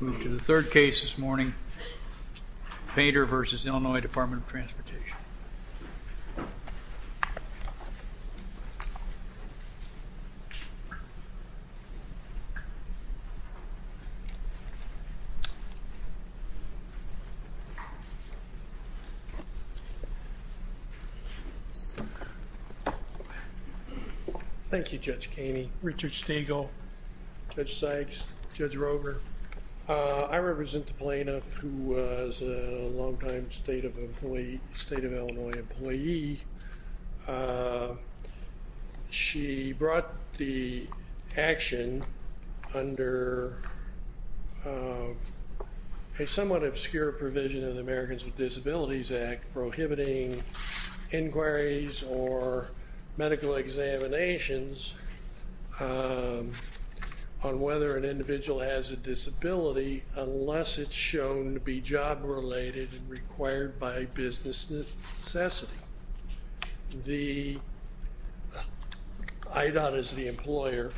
Move to the third case this morning, Painter v. Illinois Department of Transportation. Thank you, Judge Caney, Richard Stegall, Judge Sykes, Judge Rover. I represent the plaintiff who was a long-time State of Illinois employee. She brought the action under a somewhat obscure provision of the Americans with Disabilities Act prohibiting inquiries or medical examinations on whether an individual has a disability unless it's shown to be job-related and required by business necessity. The IDOT is the employer,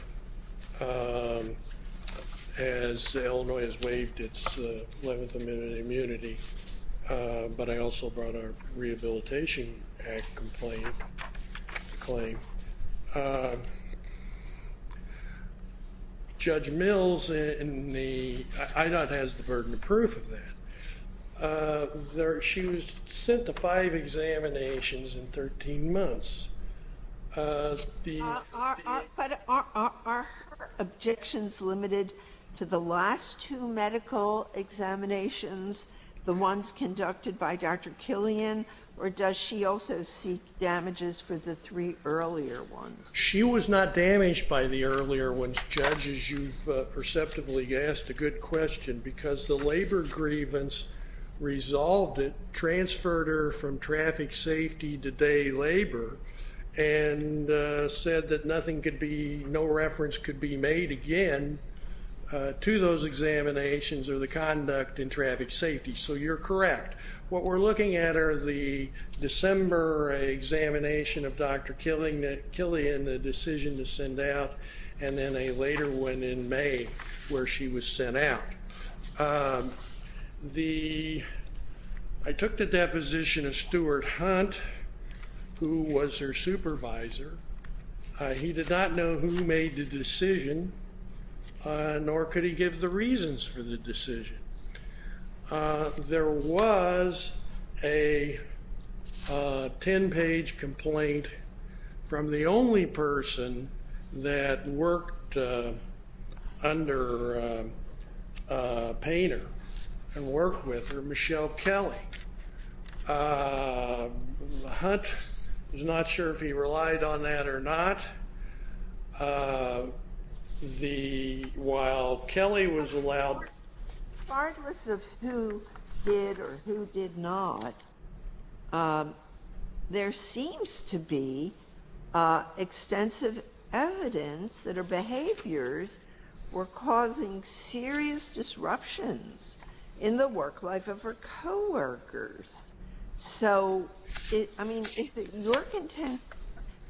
as Illinois has waived its 11th Amendment immunity, but I also brought a Rehabilitation Act complaint, claim. Judge Mills in the IDOT has the burden of proof of that. She was sent to five examinations in 13 months. Are her objections limited to the last two medical examinations, the ones conducted by She was not damaged by the earlier ones, Judge, as you've perceptively asked a good question, because the labor grievance resolved it, transferred her from traffic safety to day labor, and said that no reference could be made again to those examinations or the conduct in traffic safety. So you're correct. What we're looking at are the December examination of Dr. Killian, the decision to send out, and then a later one in May where she was sent out. I took the deposition of Stuart Hunt, who was her supervisor. He did not know who made the decision, nor could he give the reasons for the decision. There was a 10-page complaint from the only person that worked under Painter and worked with her, Michelle Kelly. Hunt was not sure if he relied on that or not. While Kelly was allowed... Regardless of who did or who did not, there seems to be extensive evidence that her behaviors were causing serious disruptions in the work life of her co-workers. So, I mean, is it your contempt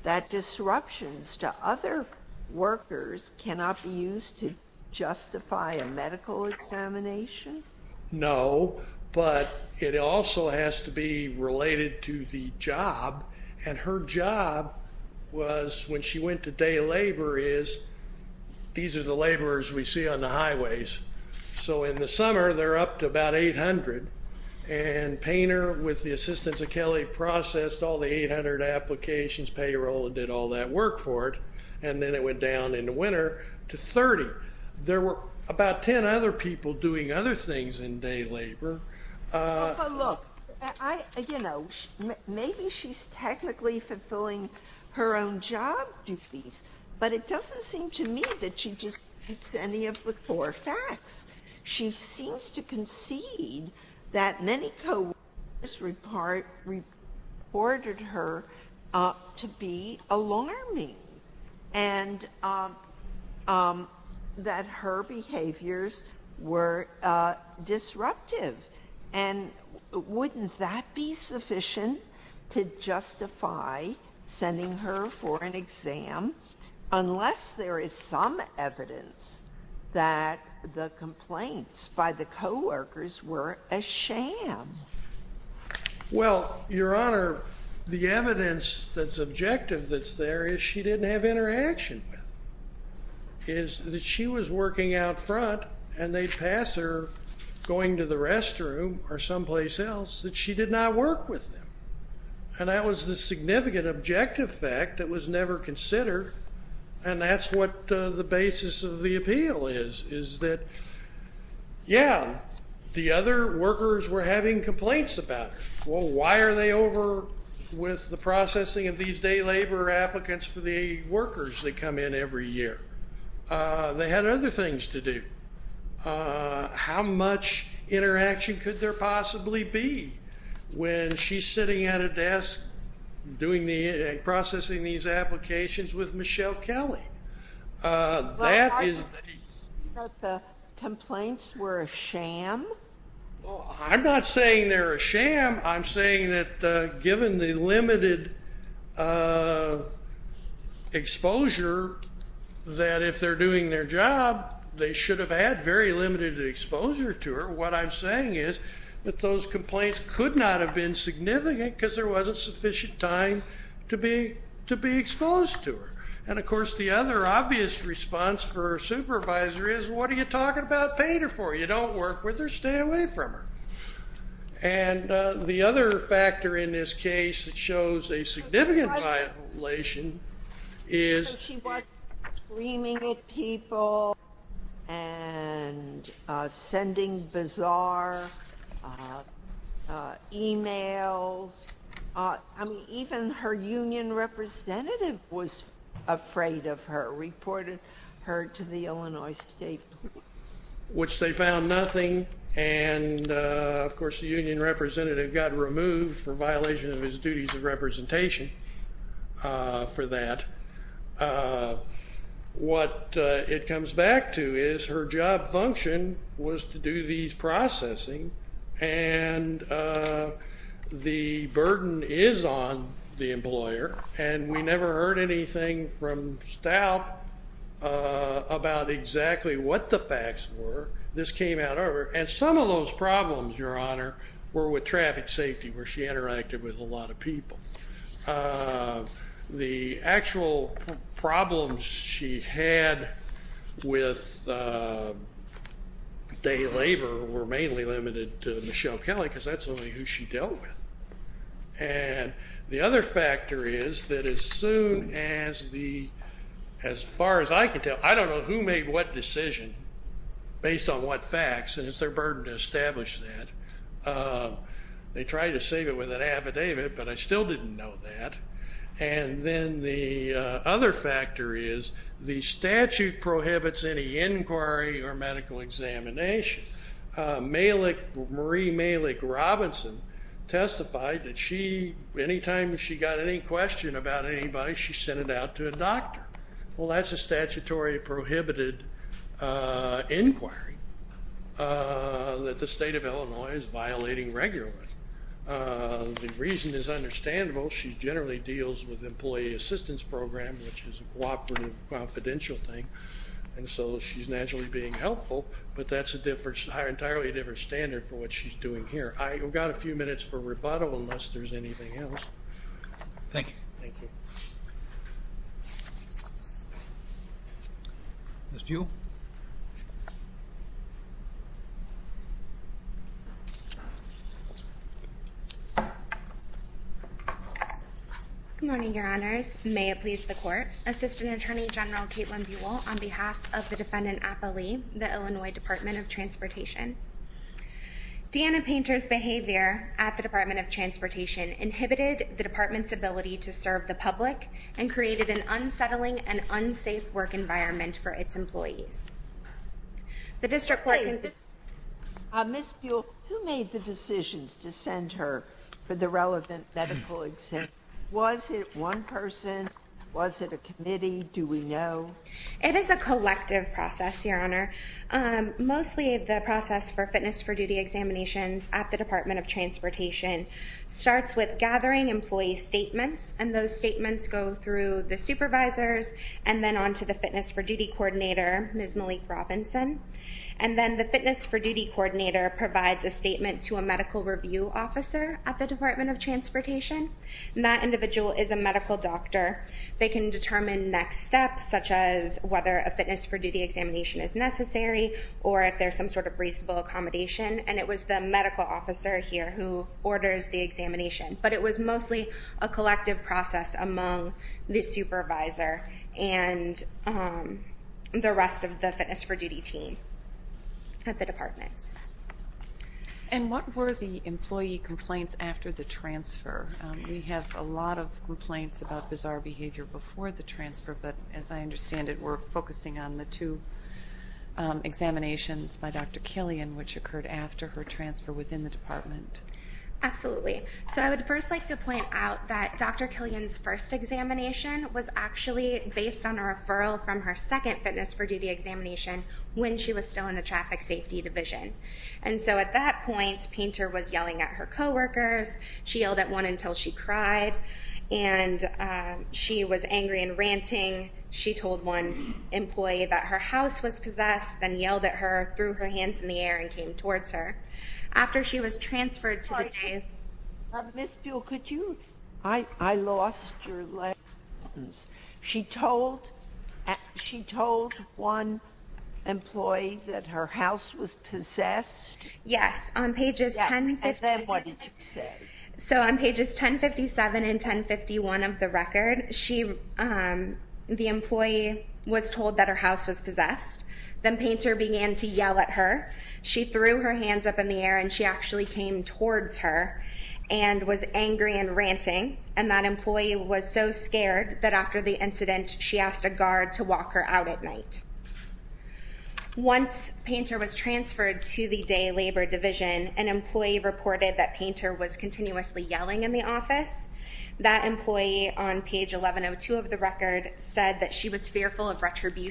that disruptions to other workers cannot be used to justify a medical examination? No, but it also has to be related to the job, and her job was, when she went to day labor, is these are the laborers we see on the highways. So in the summer, they're up to about 800, and Painter, with the assistance of Kelly, processed all the 800 applications, payroll, and did all that work for it, and then it went down in the winter to 30. There were about 10 other people doing other things in day labor. But look, I, you know, maybe she's technically fulfilling her own job duties, but it doesn't seem to me that she just repeats any of the core facts. She seems to concede that many co-workers reported her to be alarming, and that her behaviors were disruptive, and wouldn't that be sufficient to justify sending her for an exam, unless there is some evidence that the complaints by the co-workers were a sham? Well, Your Honor, the evidence that's objective that's there is she didn't have interaction with them. It is that she was working out front, and they'd pass her going to the restroom or someplace else that she did not work with them. And that was the significant objective fact that was never considered, and that's what the basis of the appeal is, is that, yeah, the other workers were having complaints about her. Well, why are they over with the processing of these day labor applicants for the workers that come in every year? They had other things to do. How much interaction could there possibly be when she's sitting at a desk processing these applications with Michelle Kelly? That is... Well, I thought that the complaints were a sham. I'm not saying they're a sham. I'm saying that given the limited exposure, that if they're doing their job, they should have had very limited exposure to her. What I'm saying is that those complaints could not have been significant because there wasn't sufficient time to be exposed to her. And of course, the other obvious response for a supervisor is, what are you talking about paying her for? You don't work with her. Stay away from her. And the other factor in this case that shows a significant violation is... And sending bizarre emails. I mean, even her union representative was afraid of her, reported her to the Illinois State Police. Which they found nothing. And of course, the union representative got removed for violation of his duties of representation for that. But what it comes back to is, her job function was to do these processing, and the burden is on the employer. And we never heard anything from Stout about exactly what the facts were. This came out over... And some of those problems, Your Honor, were with traffic safety, where she interacted with a lot of people. The actual problems she had with day labor were mainly limited to Michelle Kelly, because that's only who she dealt with. And the other factor is that as soon as the... As far as I can tell, I don't know who made what decision based on what facts, and it's their burden to establish that. They tried to save it with an affidavit, but I still didn't know that. And then the other factor is, the statute prohibits any inquiry or medical examination. Marie Malick Robinson testified that she, anytime she got any question about anybody, Well, that's a statutory prohibited inquiry that the state of Illinois is violating regularly. The reason is understandable. She generally deals with employee assistance program, which is a cooperative, confidential thing. And so she's naturally being helpful, but that's an entirely different standard for what she's doing here. I've got a few minutes for rebuttal, unless there's anything else. Thank you. Thank you. Ms. Buell. Good morning, your honors. May it please the court. Assistant Attorney General Caitlin Buell on behalf of the defendant, Appa Lee, the Illinois Department of Transportation. Deanna Painter's behavior at the Department of Transportation inhibited the department's and created an unsettling and unsafe work environment for its employees. Ms. Buell, who made the decisions to send her for the relevant medical exam? Was it one person? Was it a committee? Do we know? It is a collective process, your honor. Mostly the process for fitness for duty examinations at the Department of Transportation starts with gathering employee statements. And those statements go through the supervisors and then on to the fitness for duty coordinator, Ms. Malik Robinson. And then the fitness for duty coordinator provides a statement to a medical review officer at the Department of Transportation. And that individual is a medical doctor. They can determine next steps, such as whether a fitness for duty examination is necessary or if there's some sort of reasonable accommodation. And it was the medical officer here who orders the examination. But it was mostly a collective process among the supervisor and the rest of the fitness for duty team at the department. And what were the employee complaints after the transfer? We have a lot of complaints about bizarre behavior before the transfer, but as I understand it, you were focusing on the two examinations by Dr. Killian, which occurred after her transfer within the department. Absolutely. So I would first like to point out that Dr. Killian's first examination was actually based on a referral from her second fitness for duty examination when she was still in the traffic safety division. And so at that point, Painter was yelling at her coworkers. She yelled at one until she cried. And she was angry and ranting. She told one employee that her house was possessed, then yelled at her, threw her hands in the air, and came towards her. After she was transferred to the day of the transfer. Ms. Buol, could you? I lost your lines. She told one employee that her house was possessed? Yes. And then what did you say? So on pages 1057 and 1051 of the record, the employee was told that her house was possessed. Then Painter began to yell at her. She threw her hands up in the air, and she actually came towards her and was angry and ranting. And that employee was so scared that after the incident, she asked a guard to walk her out at night. Once Painter was transferred to the day labor division, an employee reported that Painter was continuously yelling in the office. That employee on page 1102 of the record said that she was fearful of retribution.